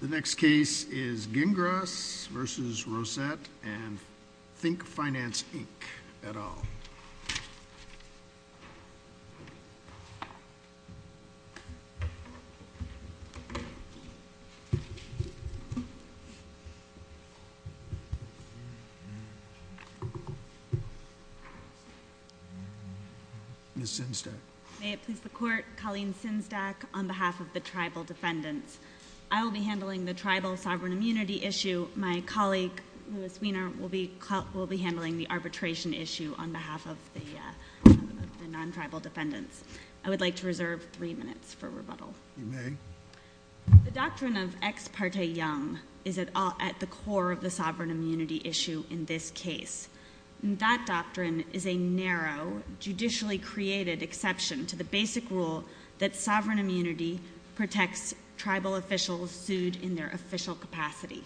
The next case is Gingras v. Rosette and Think Finance, Inc. et al. Ms. Sinzdak. May it please the Court, Colleen Sinzdak on behalf of the Tribal Defendants. I will be handling the Tribal Sovereign Immunity issue. My colleague, Louis Weiner, will be handling the arbitration issue on behalf of the non-tribal defendants. I would like to reserve three minutes for rebuttal. You may. The doctrine of ex parte young is at the core of the sovereign immunity issue in this case. That doctrine is a narrow, judicially created exception to the basic rule that sovereign immunity protects tribal officials sued in their official capacity.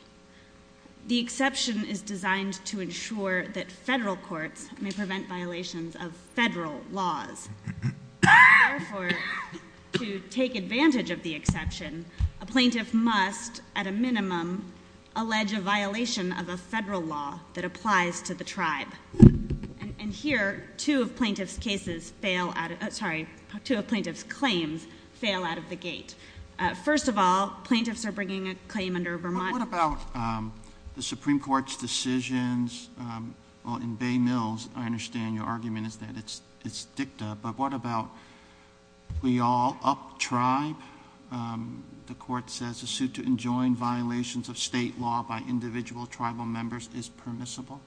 The exception is designed to ensure that federal courts may prevent violations of federal laws. Therefore, to take advantage of the exception, a plaintiff must, at a minimum, allege a violation of a federal law that applies to the tribe. And here, two of plaintiff's claims fail out of the gate. First of all, plaintiffs are bringing a claim under Vermont- But what about the Supreme Court's decisions? Well, in Bay Mills, I understand your argument is that it's dicta. But what about we all uptribe? The Court says a suit to enjoin violations of state law by individual tribal members is permissible.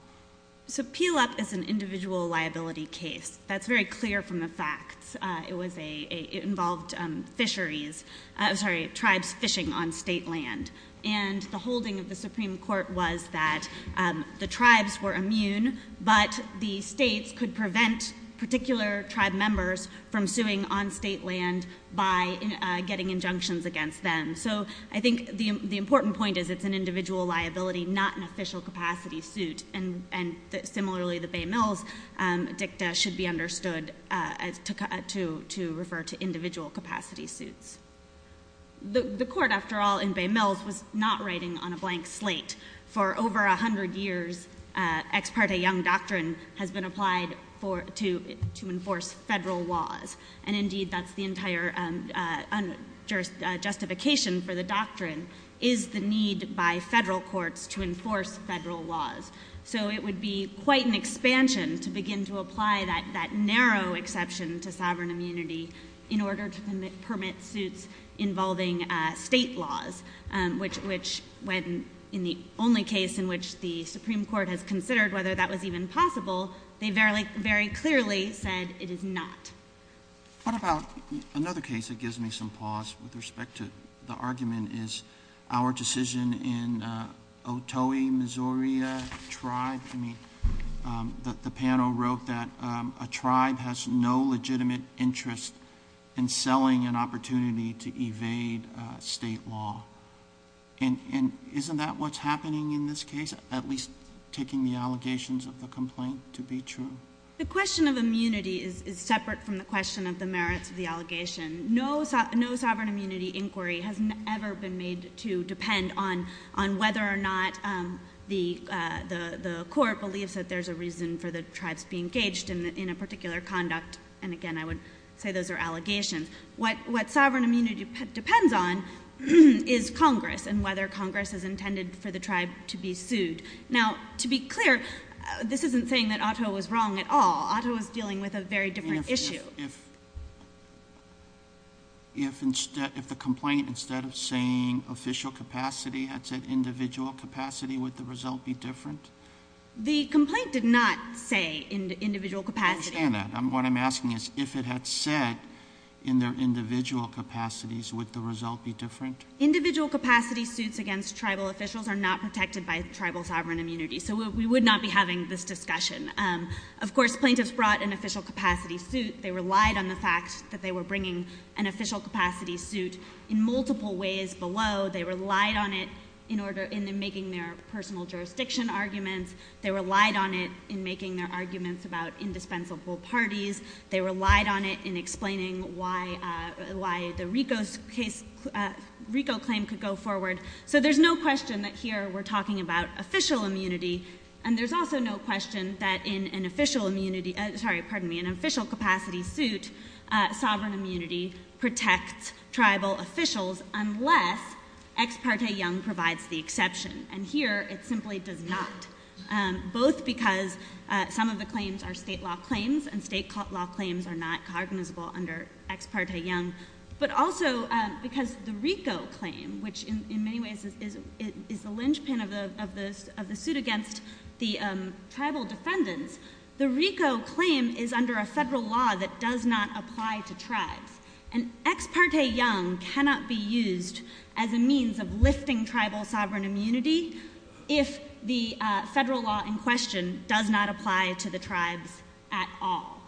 So, Peel Up is an individual liability case. That's very clear from the facts. It involved fisheries, sorry, tribes fishing on state land. And the holding of the Supreme Court was that the tribes were immune, but the states could prevent particular tribe members from suing on state land by getting injunctions against them. So, I think the important point is it's an individual liability, not an official capacity suit. And similarly, the Bay Mills dicta should be understood to refer to individual capacity suits. The Court, after all, in Bay Mills was not writing on a blank slate. For over 100 years, Ex parte Young Doctrine has been applied to enforce federal laws. And indeed, that's the entire justification for the doctrine, is the need by federal courts to enforce federal laws. So, it would be quite an expansion to begin to apply that narrow exception to sovereign immunity in order to permit suits involving state laws, which when in the only case in which the Supreme Court has considered whether that was even possible, they very clearly said it is not. What about another case that gives me some pause with respect to the argument is our decision in Otoe, Missouri tribe, I mean, the panel wrote that a tribe has no legitimate interest in selling an opportunity to evade state law. And isn't that what's happening in this case, at least taking the allegations of the complaint to be true? The question of immunity is separate from the question of the merits of the allegation. No sovereign immunity inquiry has ever been made to depend on whether or not the court believes that there's a reason for the tribes being engaged in a particular conduct. And again, I would say those are allegations. What sovereign immunity depends on is Congress, and whether Congress has intended for the tribe to be sued. Now, to be clear, this isn't saying that Otoe was wrong at all. Otoe was dealing with a very different issue. If instead, if the complaint, instead of saying official capacity, had said individual capacity, would the result be different? The complaint did not say individual capacity. I understand that. What I'm asking is if it had said in their individual capacities, would the result be different? Individual capacity suits against tribal officials are not protected by tribal sovereign immunity. So we would not be having this discussion. Of course, plaintiffs brought an official capacity suit. They relied on the fact that they were bringing an official capacity suit in multiple ways below. They relied on it in making their personal jurisdiction arguments. They relied on it in making their arguments about indispensable parties. They relied on it in explaining why the RICO claim could go forward. So there's no question that here we're talking about official immunity. And there's also no question that in an official immunity, sorry, pardon me, in an official capacity suit, sovereign immunity protects tribal officials unless Ex parte Young provides the exception. And here, it simply does not. Both because some of the claims are state law claims, and state law claims are not cognizable under Ex parte Young. But also because the RICO claim, which in many ways is the linchpin of the suit against the tribal defendants, the RICO claim is under a federal law that does not apply to tribes. And Ex parte Young cannot be used as a means of lifting tribal sovereign immunity if the federal law in question does not apply to the tribes at all.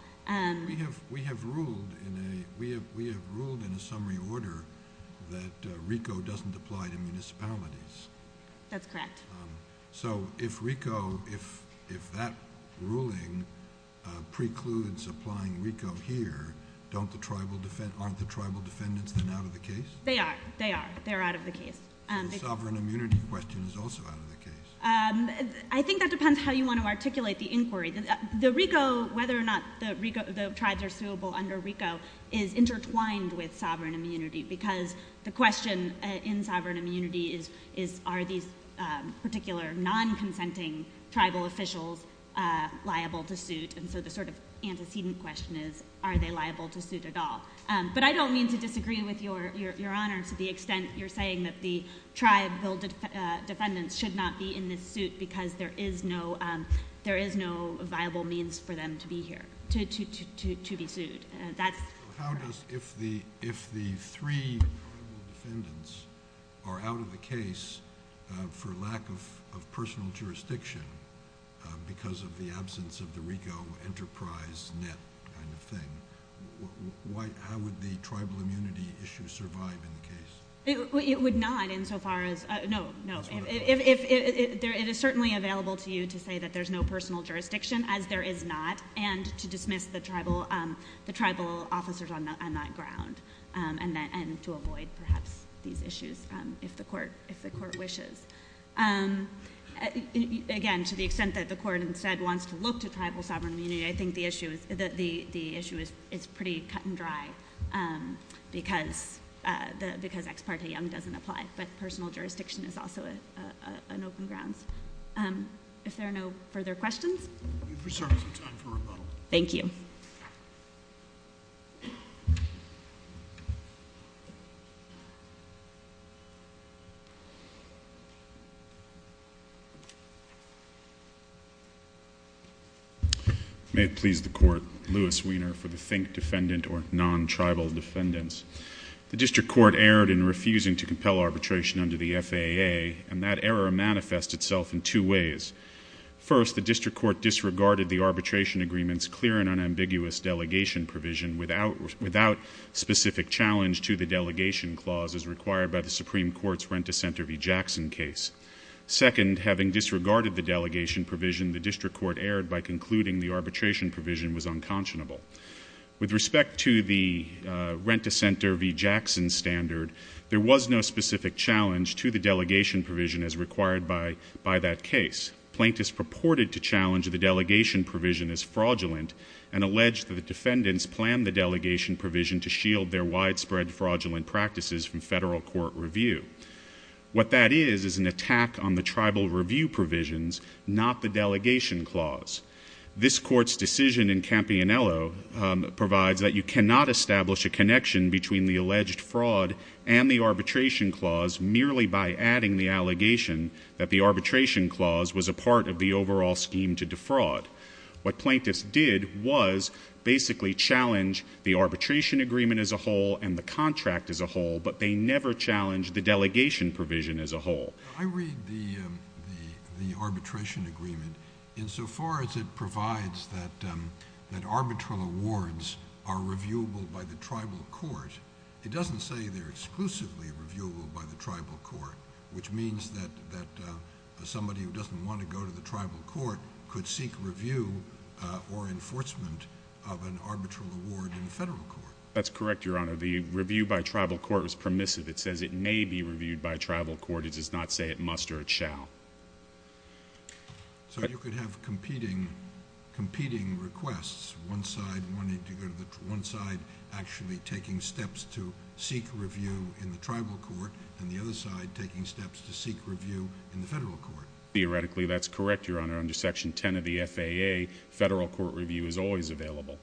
We have ruled in a summary order that RICO doesn't apply to municipalities. That's correct. So if RICO, if that ruling precludes applying RICO here, aren't the tribal defendants then out of the case? They are. They are. They're out of the case. Sovereign immunity question is also out of the case. I think that depends how you want to articulate the inquiry. Whether or not the tribes are suable under RICO is intertwined with sovereign immunity, because the question in sovereign immunity is, are these particular non-consenting tribal officials liable to suit? And so the sort of antecedent question is, are they liable to suit at all? But I don't mean to disagree with your honor to the extent you're saying that the tribe bill defendants should not be in this suit because there is no viable means for them to be here, to be sued. How does, if the three defendants are out of the case for lack of personal jurisdiction because of the absence of the RICO enterprise net kind of thing, how would the tribal immunity issue survive in the case? It would not insofar as, no, no. It is certainly available to you to say that there's no personal jurisdiction as there is not and to dismiss the tribal officers on that ground. And to avoid perhaps these issues if the court wishes. Again, to the extent that the court instead wants to look to tribal sovereign immunity, I think the issue is pretty cut and dry because ex parte doesn't apply. But personal jurisdiction is also an open grounds. If there are no further questions. We're sorry, there's no time for rebuttal. Thank you. May it please the court. Louis Weiner for the Think Defendant or non-tribal defendants. The district court erred in refusing to compel arbitration under the FAA and that error manifests itself in two ways. First, the district court disregarded the arbitration agreement's clear and unambiguous delegation provision without specific challenge to the delegation clause as required by the Supreme Court's Rent-a-Center v. Jackson case. Second, having disregarded the delegation provision, the district court erred by concluding the arbitration provision was unconscionable. With respect to the Rent-a-Center v. Jackson standard, there was no specific challenge to the delegation provision as required by that case. Plaintiffs purported to challenge the delegation provision as fraudulent and alleged that the defendants planned the delegation provision to shield their widespread fraudulent practices from federal court review. What that is is an attack on the tribal review provisions, not the delegation clause. This court's decision in Campionello provides that you cannot establish a connection between the alleged fraud and the arbitration clause merely by adding the allegation that the arbitration clause was a part of the overall scheme to defraud. What plaintiffs did was basically challenge the arbitration agreement as a whole and the contract as a whole, but they never challenged the delegation provision as a whole. I read the arbitration agreement insofar as it provides that arbitral awards are reviewable by the tribal court. It doesn't say they're exclusively reviewable by the tribal court, which means that somebody who doesn't want to go to the tribal court could seek review or enforcement of an arbitral award in the federal court. That's correct, Your Honor. The review by tribal court is permissive. It says it may be reviewed by tribal court. It does not say it must or it shall. So you could have competing requests, one side wanting to go to the, one side actually taking steps to seek review in the tribal court and the other side taking steps to seek review in the federal court. Theoretically, that's correct, Your Honor. Under Section 10 of the FAA, federal court review is always available.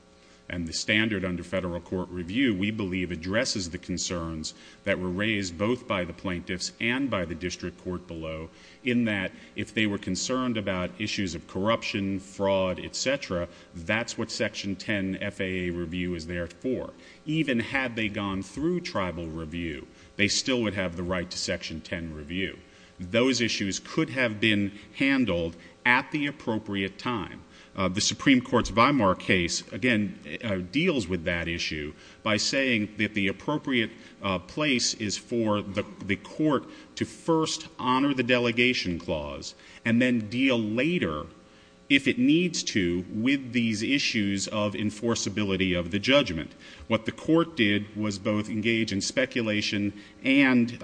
And the standard under federal court review, we believe, addresses the concerns that were raised both by the plaintiffs and by the district court below in that if they were concerned about issues of corruption, fraud, etc., that's what Section 10 FAA review is there for. Even had they gone through tribal review, they still would have the right to Section 10 review. Those issues could have been handled at the appropriate time. The Supreme Court's VIMAR case, again, deals with that issue by saying that the appropriate place is for the court to first honor the delegation clause and then deal later, if it needs to, with these issues of enforceability of the judgment. What the court did was both engage in speculation and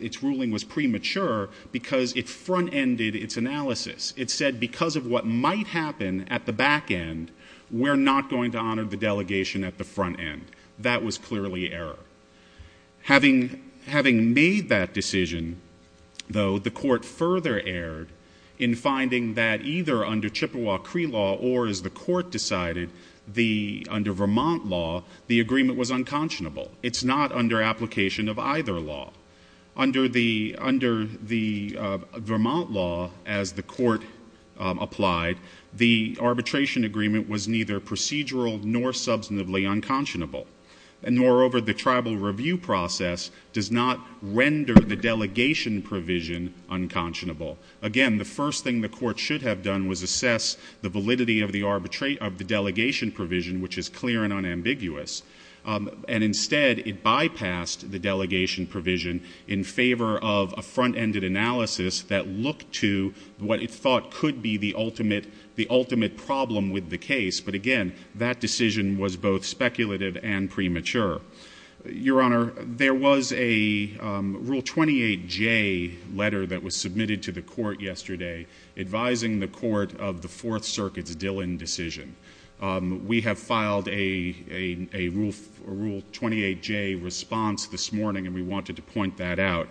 its ruling was premature because it front-ended its analysis. It said because of what might happen at the back end, we're not going to honor the delegation at the front end. That was clearly error. Having made that decision, though, the court further erred in finding that either under Chippewa Cree law or, as the court decided, under Vermont law, the agreement was unconscionable. It's not under application of either law. Under the Vermont law, as the court applied, the arbitration agreement was neither procedural nor substantively unconscionable. And moreover, the tribal review process does not render the delegation provision unconscionable. Again, the first thing the court should have done was assess the validity of the delegation provision, which is clear and unambiguous. And instead, it bypassed the delegation provision in favor of a front-ended analysis that looked to what it thought could be the ultimate problem with the case. But again, that decision was both speculative and premature. Your Honor, there was a Rule 28J letter that was submitted to the court yesterday advising the court of the Fourth Circuit's Dillon decision. We have filed a Rule 28J response this morning, and we wanted to point that out.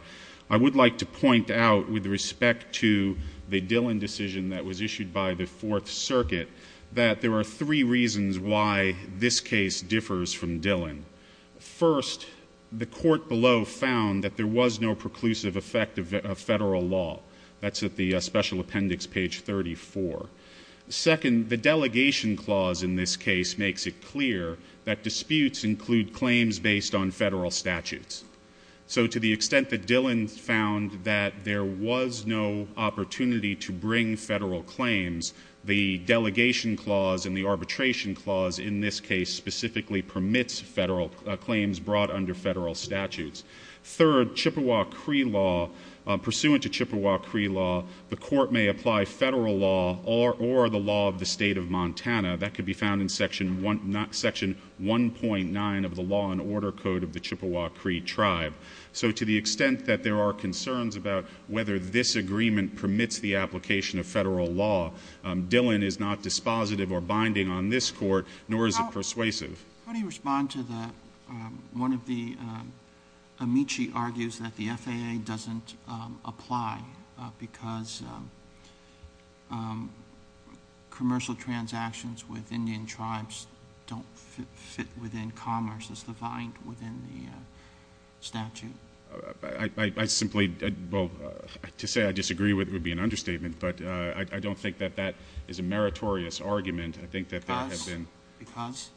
I would like to point out, with respect to the Dillon decision that was issued by the Fourth Circuit, that there are three reasons why this case differs from Dillon. First, the court below found that there was no preclusive effect of federal law. That's at the special appendix, page 34. Second, the delegation clause in this case makes it clear that disputes include claims based on federal statutes. So to the extent that Dillon found that there was no opportunity to bring federal claims, the delegation clause and the arbitration clause in this case specifically permits federal claims brought under federal statutes. Third, Chippewa Cree law, pursuant to Chippewa Cree law, the court may apply federal law or the law of the state of Montana. That could be found in Section 1.9 of the Law and Order Code of the Chippewa Cree Tribe. So to the extent that there are concerns about whether this agreement permits the application of federal law, Dillon is not dispositive or binding on this court, nor is it persuasive. How do you respond to the, um, one of the, um, Amici argues that the FAA doesn't, um, apply, uh, because, um, um, commercial transactions with Indian tribes don't fit within commerce as defined within the, uh, statute. Uh, I, I, I simply, uh, well, uh, to say I disagree with it would be an understatement, but, uh, I, I don't think that that is a meritorious argument. I think that there has been— Because?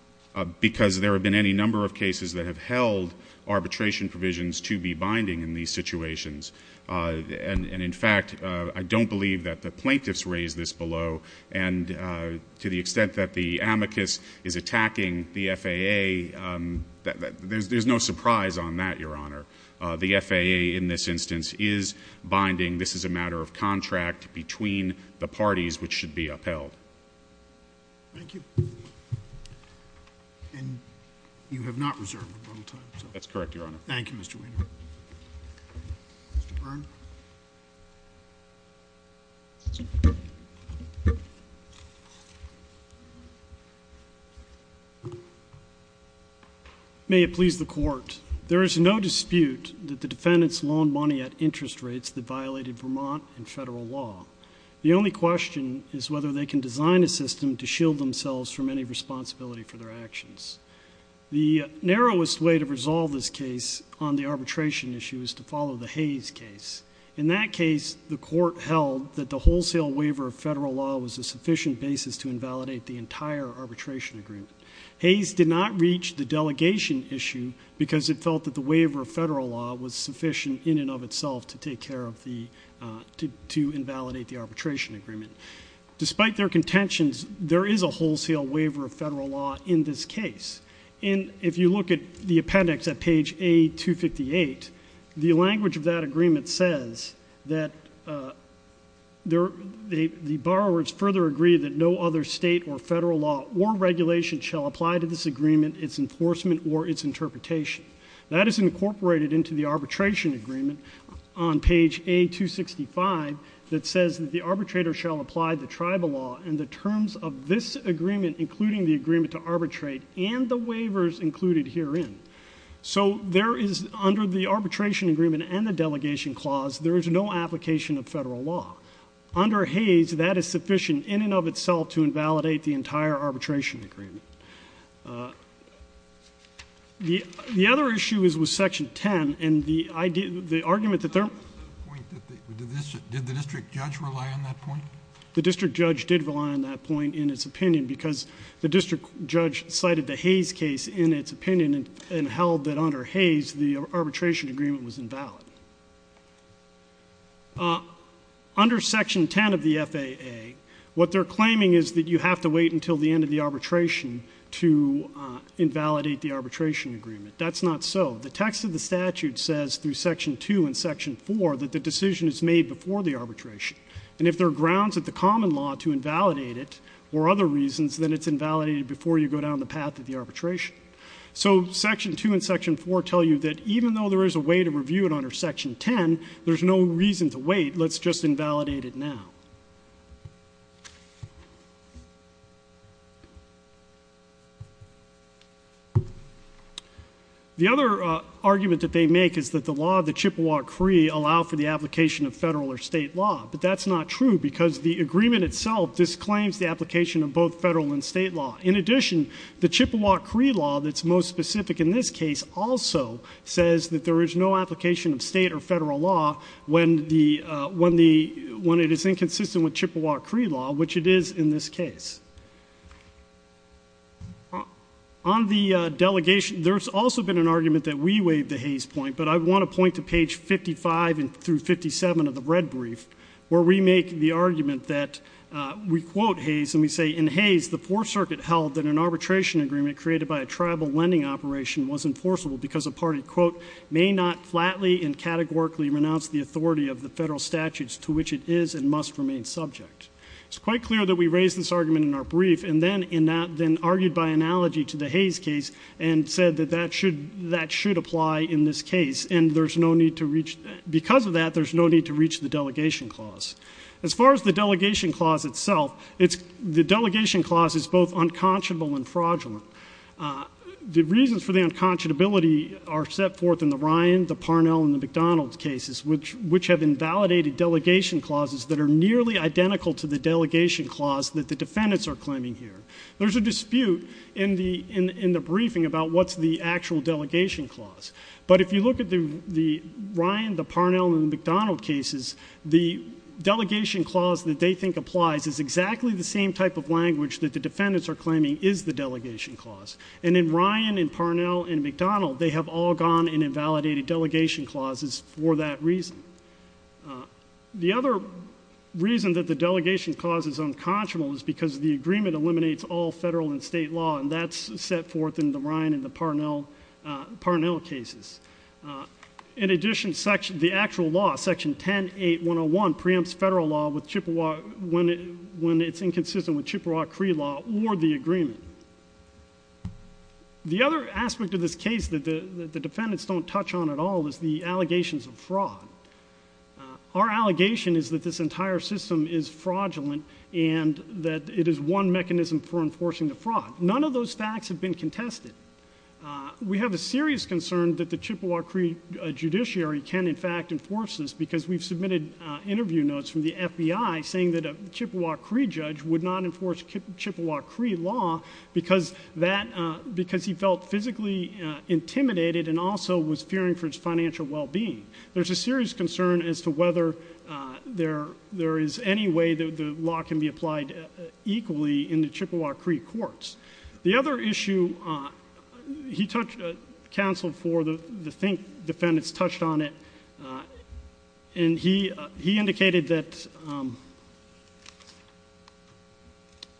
Because there have been any number of cases that have held arbitration provisions to be binding in these situations. Uh, and, and in fact, uh, I don't believe that the plaintiffs raised this below. And, uh, to the extent that the Amicus is attacking the FAA, um, there's, there's no surprise on that, Your Honor. Uh, the FAA in this instance is binding. This is a matter of contract between the parties which should be upheld. Thank you. And you have not reserved a bottle of time, so— That's correct, Your Honor. Thank you, Mr. Weiner. Mr. Byrne. May it please the Court. There is no dispute that the defendants loaned money at interest rates that violated Vermont and federal law. The only question is whether they can design a system to shield themselves from any responsibility for their actions. The narrowest way to resolve this case on the arbitration issue is to follow the Hayes case. In that case, the Court held that the wholesale waiver of federal law was a sufficient basis to invalidate the entire arbitration agreement. Hayes did not reach the delegation issue because it felt that the waiver of federal law was sufficient in and of itself to take care of the, uh, to, to invalidate the arbitration agreement. Despite their contentions, there is a wholesale waiver of federal law in this case. And if you look at the appendix at page A258, the language of that agreement says that, uh, there, the, the borrowers further agree that no other state or federal law or regulation shall apply to this agreement, its enforcement, or its interpretation. That is incorporated into the arbitration agreement on page A265 that says that the arbitrator shall apply the tribal law and the terms of this agreement, including the agreement to arbitrate and the waivers included herein. So there is, under the arbitration agreement and the delegation clause, there is no application of federal law. Under Hayes, that is sufficient in and of itself to invalidate the entire arbitration agreement. Uh, the, the other issue is with section 10 and the idea, the argument that there. The point that the, did the district judge rely on that point? The district judge did rely on that point in its opinion because the district judge cited the Hayes case in its opinion and held that under Hayes, the arbitration agreement was invalid. Uh, under section 10 of the FAA, what they're claiming is that you have to wait until the end of the arbitration to, uh, invalidate the arbitration agreement. That's not so. The text of the statute says through section two and section four, that the decision is made before the arbitration. And if there are grounds at the common law to invalidate it or other reasons, then it's invalidated before you go down the path of the arbitration. So section two and section four tell you that even though there is a way to review it under section 10, there's no reason to wait. Let's just invalidate it now. The other, uh, argument that they make is that the law of the Chippewa Cree allow for the application of federal or state law. But that's not true because the agreement itself disclaims the application of both federal and state law. In addition, the Chippewa Cree law that's most specific in this case also says that there is no application of state or federal law when the, uh, when the, when Cree law, which it is in this case. On the delegation, there's also been an argument that we waive the Hayes point, but I want to point to page 55 through 57 of the red brief where we make the argument that, uh, we quote Hayes. And we say in Hayes, the poor circuit held that an arbitration agreement created by a tribal lending operation was enforceable because a party quote may not flatly and categorically renounce the authority of the federal statutes to which it is and subject. It's quite clear that we raised this argument in our brief. And then in that, then argued by analogy to the Hayes case and said that that should, that should apply in this case. And there's no need to reach because of that, there's no need to reach the delegation clause. As far as the delegation clause itself, it's the delegation clause is both unconscionable and fraudulent. Uh, the reasons for the unconscionability are set forth in the Ryan, the Parnell and the McDonald cases, the delegation clause that they think applies is exactly the same type of language that the defendants are claiming is the delegation clause. And in Ryan and Parnell and McDonald, they have all gone and invalidated delegation clauses for that reason. delegation clause. causes unconscionable is because the agreement eliminates all federal and state law. And that's set forth in the Ryan and the Parnell, uh, Parnell cases. Uh, in addition, section, the actual law section 10, 8, 1 0 1 preempts federal law with Chippewa when, when it's inconsistent with Chippewa Cree law or the agreement. The other aspect of this case that the defendants don't touch on at all is the allegations of fraud. Uh, our allegation is that this entire system is fraudulent and that it is one mechanism for enforcing the fraud. None of those facts have been contested. Uh, we have a serious concern that the Chippewa Cree judiciary can in fact enforce this because we've submitted, uh, interview notes from the FBI saying that a Chippewa Cree judge would not enforce Chippewa Cree law because that, uh, because he felt physically intimidated and also was fearing for his financial wellbeing. There's a serious concern as to whether, uh, there, there is any way that the law can be applied equally in the Chippewa Cree courts. The other issue, uh, he touched, uh, counseled for the, the think defendants touched on it. Uh, and he, uh, he indicated that, um,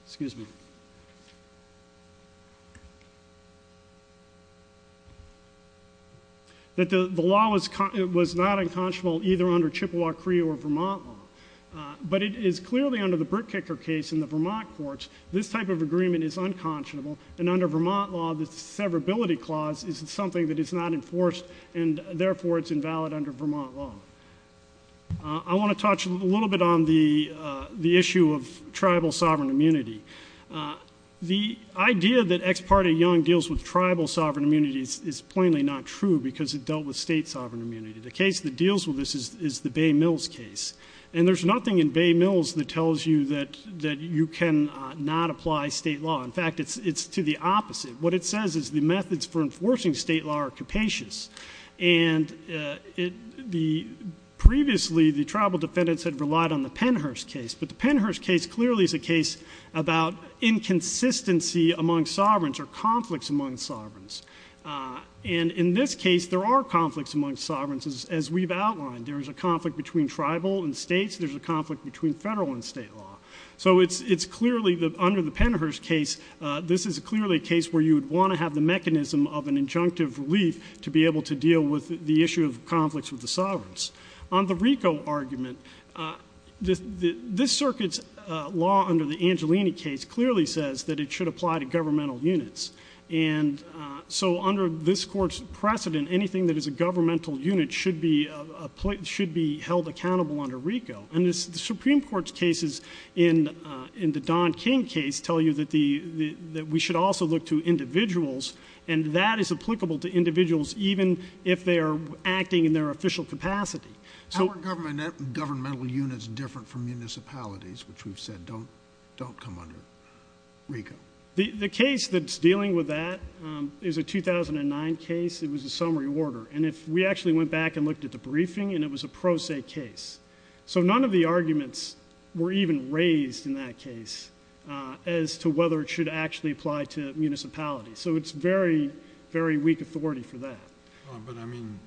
excuse me, excuse me, that the law was, it was not unconscionable either under Chippewa Cree or Vermont law, uh, but it is clearly under the Brickkicker case in the Vermont courts, this type of agreement is unconscionable and under Vermont law, the severability clause is something that is not enforced and therefore it's invalid under Vermont law. Uh, I want to touch a little bit on the, uh, the issue of tribal sovereign immunity, uh, the idea that ex parte Young deals with tribal sovereign immunities is plainly not true because it dealt with state sovereign immunity. The case that deals with this is, is the Bay Mills case. And there's nothing in Bay Mills that tells you that, that you can not apply state law. In fact, it's, it's to the opposite. What it says is the methods for enforcing state law are capacious. And, uh, it, the previously the tribal defendants had relied on the Pennhurst case, but the Pennhurst case clearly is a case about inconsistency among sovereigns or conflicts among sovereigns. Uh, and in this case, there are conflicts among sovereigns as we've outlined. There is a conflict between tribal and states. There's a conflict between federal and state law. So it's, it's clearly the, under the Pennhurst case, uh, this is clearly a case where you would want to have the mechanism of an injunctive relief to be able to deal with the issue of conflicts with the sovereigns. On the RICO argument, uh, the, the, this circuit's, uh, law under the Angelini case clearly says that it should apply to governmental units. And, uh, so under this court's precedent, anything that is a governmental unit should be, uh, should be held accountable under RICO. And this, the Supreme Court's cases in, uh, in the Don King case tell you that the, the, that we should also look to individuals and that is applicable to How are governmental units different from municipalities, which we've said don't, don't come under RICO? The, the case that's dealing with that, um, is a 2009 case. It was a summary order. And if we actually went back and looked at the briefing and it was a pro se case. So none of the arguments were even raised in that case, uh, as to whether it should actually apply to municipalities. So it's very, very weak authority for that. But I mean,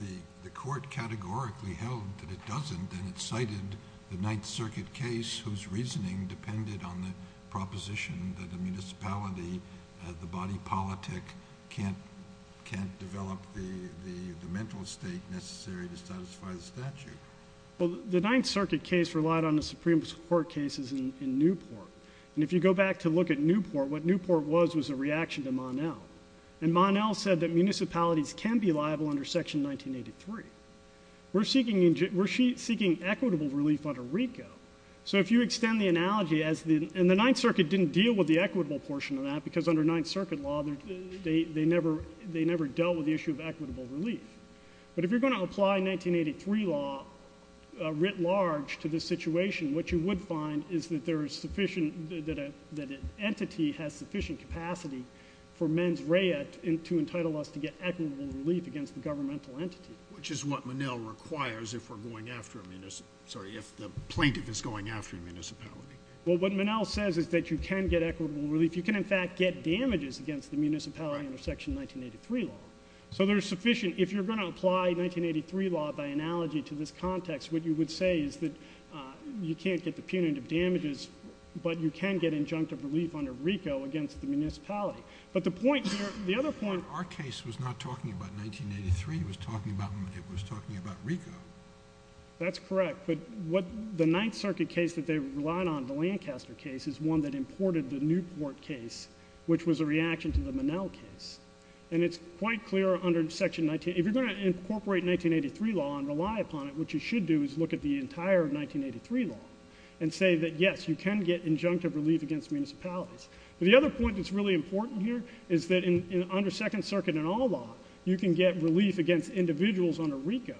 the, the court categorically held that it doesn't, and it cited the ninth circuit case whose reasoning depended on the proposition that the municipality, uh, the body politic can't, can't develop the, the, the mental state necessary to satisfy the statute. Well, the ninth circuit case relied on the Supreme Court cases in Newport. And if you go back to look at Newport, what Newport was, was a reaction to Monel said that municipalities can be liable under section 1983. We're seeking, we're seeking equitable relief under RICO. So if you extend the analogy as the, and the ninth circuit didn't deal with the equitable portion of that because under ninth circuit law, they, they, they never, they never dealt with the issue of equitable relief. But if you're going to apply 1983 law, uh, writ large to this situation, what you would find is that there is sufficient, that a, that an entity has sufficient capacity for mens rea to entitle us to get equitable relief against the governmental entity, which is what Monel requires. If we're going after a minister, sorry, if the plaintiff is going after municipality. Well, what Monel says is that you can get equitable relief. You can in fact get damages against the municipality under section 1983 law. So there's sufficient, if you're going to apply 1983 law by analogy to this context, what you would say is that, uh, you can't get the punitive damages, but you can get injunctive relief under RICO against the municipality. But the point here, the other point. Our case was not talking about 1983. It was talking about, it was talking about RICO. That's correct. But what the ninth circuit case that they relied on, the Lancaster case is one that imported the Newport case, which was a reaction to the Monel case. And it's quite clear under section 19, if you're going to incorporate 1983 law and rely upon it, what you should do is look at the entire 1983 law and say that, yes, you can get injunctive relief against municipalities. But the other point that's really important here is that in, under second circuit and all law, you can get relief against individuals under RICO,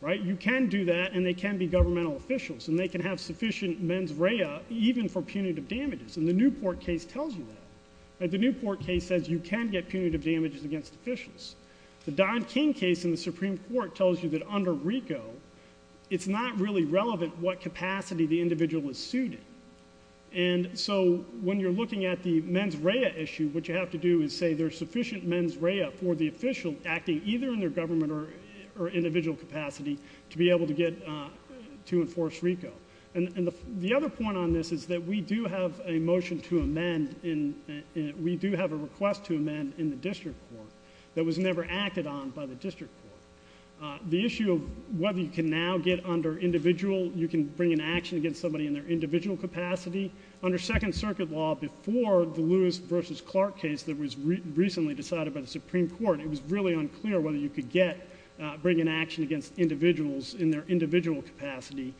right? You can do that and they can be governmental officials and they can have sufficient mens rea even for punitive damages. And the Newport case tells you that, right? The Newport case says you can get punitive damages against officials. The Don King case in the Supreme Court tells you that under RICO, it's not really relevant what capacity the individual is suited. And so when you're looking at the mens rea issue, what you have to do is say there's sufficient mens rea for the official acting either in their government or individual capacity to be able to get, to enforce RICO. And the other point on this is that we do have a motion to amend in, we do have a request to amend in the district court that was never acted on by the district court. The issue of whether you can now get under individual, you can bring an action against somebody in their individual capacity. Under second circuit law before the Lewis versus Clark case that was recently decided by the Supreme Court, it was really unclear whether you could get, bring an action against individuals in their individual capacity.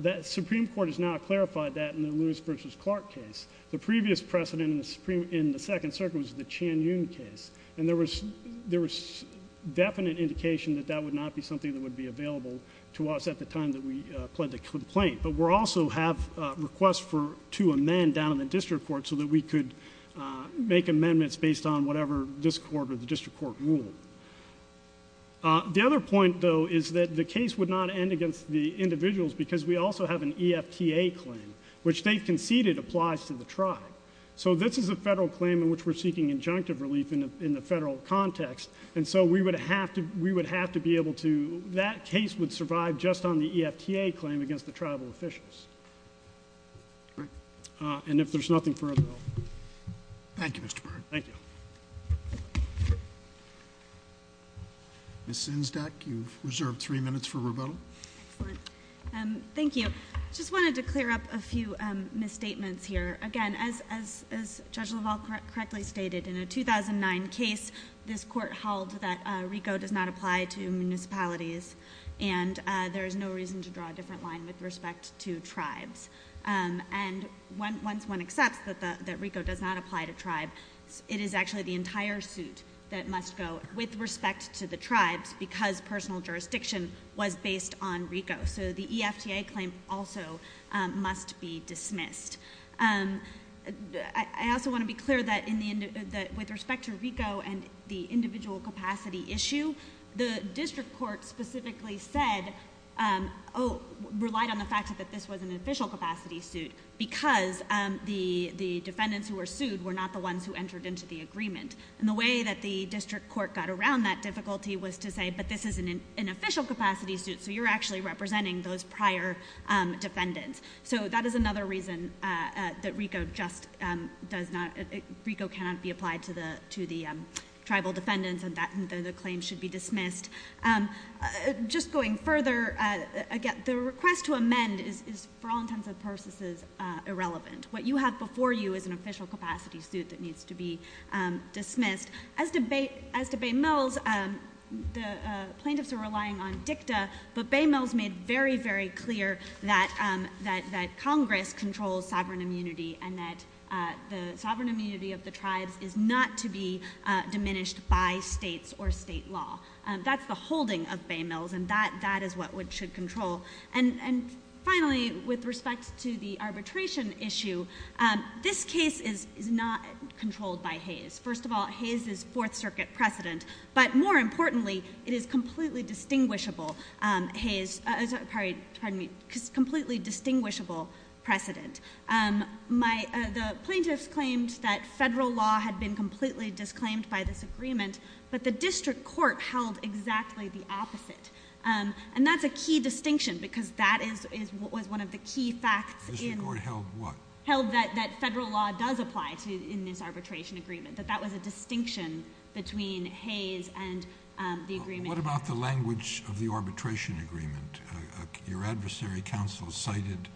The Supreme Court has now clarified that in the Lewis versus Clark case. The previous precedent in the Supreme, in the second circuit was the Chan Yun case. And there was, there was definite indication that that would not be something that would be available to us at the time that we pled the complaint. But we're also have a request for, to amend down in the district court so that we could make amendments based on whatever this court or the district court ruled. The other point though, is that the case would not end against the individuals because we also have an EFTA claim, which they conceded applies to the tribe. So this is a federal claim in which we're seeking injunctive relief in the, in the federal context. And so we would have to, we would have to be able to, that case would survive just on the EFTA claim against the tribal officials. Right. And if there's nothing further. Thank you, Mr. Byrd. Thank you. Ms. Zinsdak, you've reserved three minutes for rebuttal. Excellent. Thank you. Just wanted to clear up a few misstatements here. Again, as, as, as Judge LaValle correctly stated in a 2009 case, this court held that RICO does not apply to municipalities and there is no reason to draw a different line with respect to tribes. And when, once one accepts that the, that RICO does not apply to tribe, it is actually the entire suit that must go with respect to the tribes because personal jurisdiction was based on RICO. So the EFTA claim also must be dismissed. I also want to be clear that in the, that with respect to RICO and the individual capacity issue, the district court specifically said, oh, relied on the fact that this was an official capacity suit because the, the defendants who were sued were not the ones who entered into the agreement. And the way that the district court got around that difficulty was to say, but this is an official capacity suit, so you're actually representing those prior defendants. So that is another reason, uh, uh, that RICO just, um, does not, RICO cannot be applied to the, to the, um, tribal defendants and that the claim should be dismissed. Um, uh, just going further, uh, again, the request to amend is, is for all intents and purposes, uh, irrelevant. What you have before you is an official capacity suit that needs to be, um, dismissed. As to Bay, as to Bay Mills, um, the, uh, plaintiffs are relying on dicta, but Bay Mills made very, very clear that, um, that, that Congress controls sovereign immunity and that, uh, the sovereign immunity of the tribes is not to be, uh, diminished by states or state law. Um, that's the holding of Bay Mills and that, that is what would, should control. And, and finally, with respect to the arbitration issue, um, this case is, is not controlled by Hayes. First of all, Hayes is fourth circuit precedent, but more importantly, it is completely distinguishable. Um, Hayes, uh, sorry, pardon me, completely distinguishable precedent. Um, my, uh, the plaintiffs claimed that federal law had been completely disclaimed by this agreement, but the district court held exactly the opposite. Um, and that's a key distinction because that is, is what was one of the key facts in... The district court held what? Held that, that federal law does apply to, in this arbitration agreement, that that was a distinction between Hayes and, um, the agreement... What about the language of the arbitration agreement? Uh, uh, your adversary counsel cited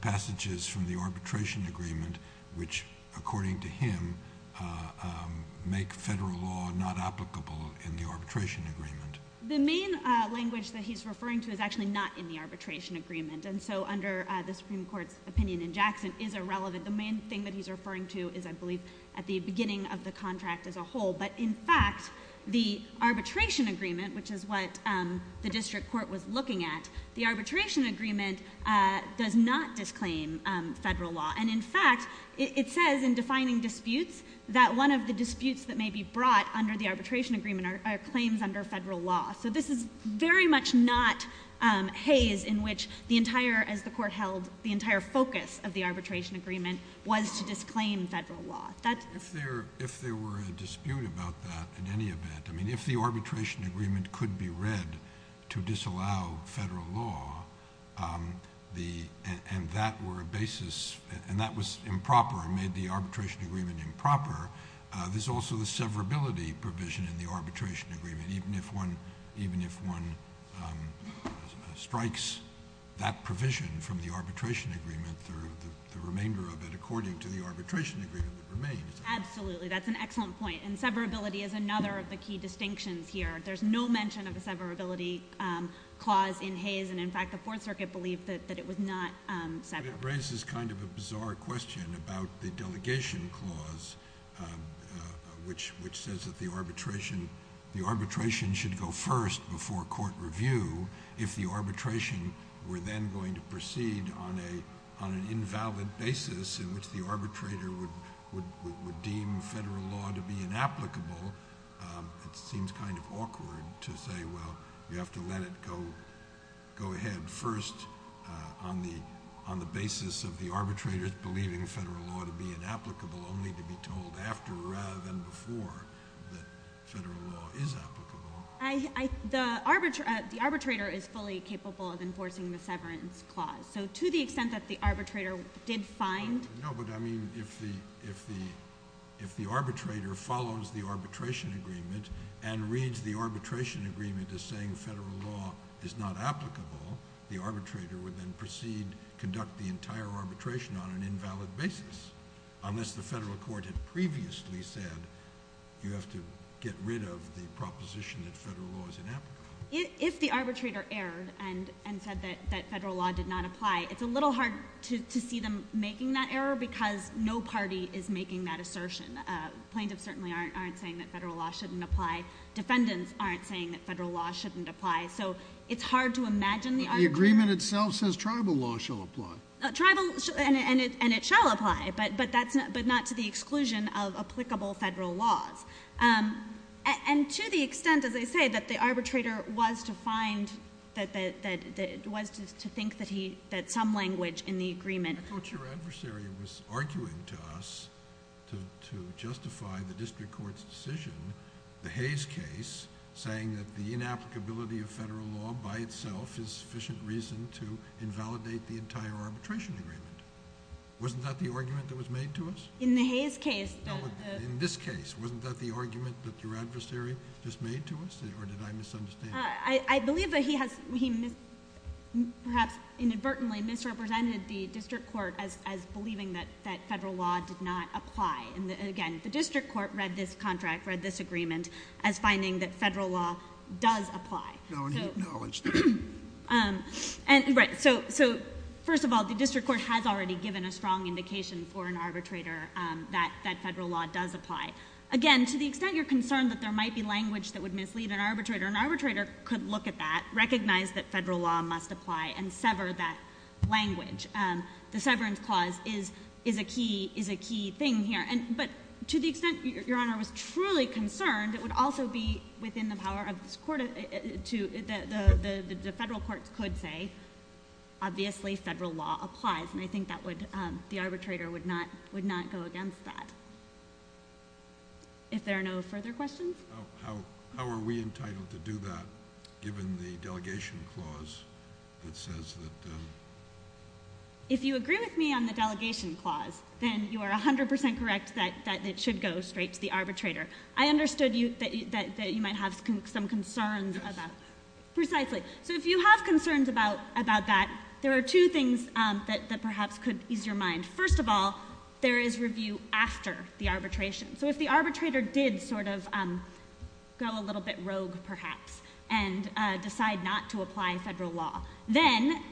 passages from the arbitration agreement, which according to him, uh, um, make federal law not applicable in the arbitration agreement. The main, uh, language that he's referring to is actually not in the arbitration agreement. And so under, uh, the Supreme Court's opinion in Jackson is irrelevant. The main thing that he's referring to is, I believe, at the beginning of the contract as a whole. But in fact, the arbitration agreement, which is what, um, the district court was looking at, the arbitration agreement, uh, does not disclaim, um, federal law. And in fact, it, it says in defining disputes that one of the disputes that may be brought under the arbitration agreement are, are claims under federal law. So this is very much not, um, Hayes in which the entire, as the court held, the entire focus of the arbitration agreement was to disclaim federal law. If there, if there were a dispute about that at any event, I mean, if the arbitration agreement could be read to disallow federal law, um, the, and, and that were a basis and that was improper and made the arbitration agreement improper, uh, there's also the severability provision in the arbitration agreement. Even if one, even if one, um, strikes that provision from the arbitration agreement, the remainder of it according to the arbitration agreement remains. Absolutely. That's an excellent point. And severability is another of the key distinctions here. There's no mention of a severability, um, clause in Hayes. And in fact, the Fourth Circuit believed that, that it was not, um, severable. It raises kind of a bizarre question about the delegation clause, um, uh, which, which says that the arbitration, the arbitration should go first before court review if the basis in which the arbitrator would, would, would, would deem federal law to be inapplicable. Um, it seems kind of awkward to say, well, you have to let it go, go ahead first, uh, on the, on the basis of the arbitrators believing federal law to be inapplicable only to be told after rather than before that federal law is applicable. I, I, the arbitrator, uh, the arbitrator is fully capable of enforcing the severance clause. So to the extent that the arbitrator did find... No, but I mean, if the, if the, if the arbitrator follows the arbitration agreement and reads the arbitration agreement as saying federal law is not applicable, the arbitrator would then proceed, conduct the entire arbitration on an invalid basis unless the federal court had previously said you have to get rid of the proposition that federal law is inapplicable. If the arbitrator erred and, and said that, that federal law did not apply, it's a little hard to, to see them making that error because no party is making that assertion. Uh, plaintiffs certainly aren't, aren't saying that federal law shouldn't apply. Defendants aren't saying that federal law shouldn't apply. So it's hard to imagine the arbitrator... The agreement itself says tribal law shall apply. Tribal, and, and it, and it shall apply, but, but that's not, but not to the exclusion of applicable federal laws. Um, and to the extent, as I say, that the arbitrator was to find that, that, that it was to think that he, that some language in the agreement... I thought your adversary was arguing to us to, to justify the district court's decision, the Hayes case, saying that the inapplicability of federal law by itself is sufficient reason to invalidate the entire arbitration agreement. Wasn't that the argument that was made to us? In the Hayes case... In this case, wasn't that the argument that your adversary just made to us? Or did I misunderstand? I, I believe that he has, he mis, perhaps inadvertently misrepresented the district court as, as believing that, that federal law did not apply. And again, the district court read this contract, read this agreement as finding that federal law does apply. No, he acknowledged it. Um, and right, so, so first of all, the district court has already given a strong indication for an arbitrator, um, that, that federal law does apply. Again, to the extent you're concerned that there might be language that would mislead an arbitrator, an arbitrator could look at that, recognize that federal law must apply, and sever that language. Um, the severance clause is, is a key, is a key thing here. And, but to the extent your, your Honor was truly concerned, it would also be within the power of this court to, the, the, the, the federal courts could say, obviously federal law applies. And I think that would, um, the arbitrator would not, would not go against that. If there are no further questions? How, how, how are we entitled to do that given the delegation clause that says that, um. If you agree with me on the delegation clause, then you are 100% correct that, that it should go straight to the arbitrator. I understood you, that, that, that you might have some concerns about. Precisely. So if you have concerns about, about that, there are two things, um, that, that perhaps could ease your mind. First of all, there is review after the arbitration. So if the arbitrator did sort of, um, go a little bit rogue perhaps and, uh, decide not to apply federal law, then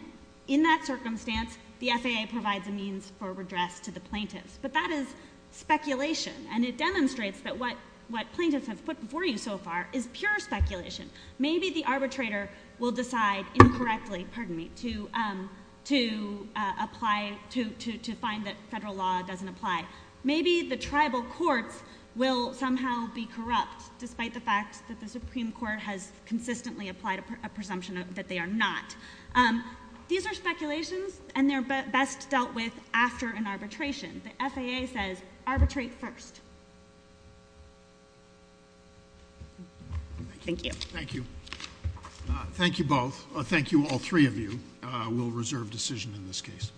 in that circumstance, the FAA provides a means for redress to the plaintiffs. But that is speculation. And it demonstrates that what, what plaintiffs have put before you so far is pure speculation. Maybe the arbitrator will decide incorrectly, pardon me, to, um, to, uh, apply to, to, to find that federal law doesn't apply. Maybe the tribal courts will somehow be corrupt despite the fact that the Supreme Court has consistently applied a presumption that they are not. These are speculations and they're best dealt with after an arbitration. The FAA says arbitrate first. Thank you. Thank you. Thank you both. Thank you all three of you. We'll reserve decision in this case.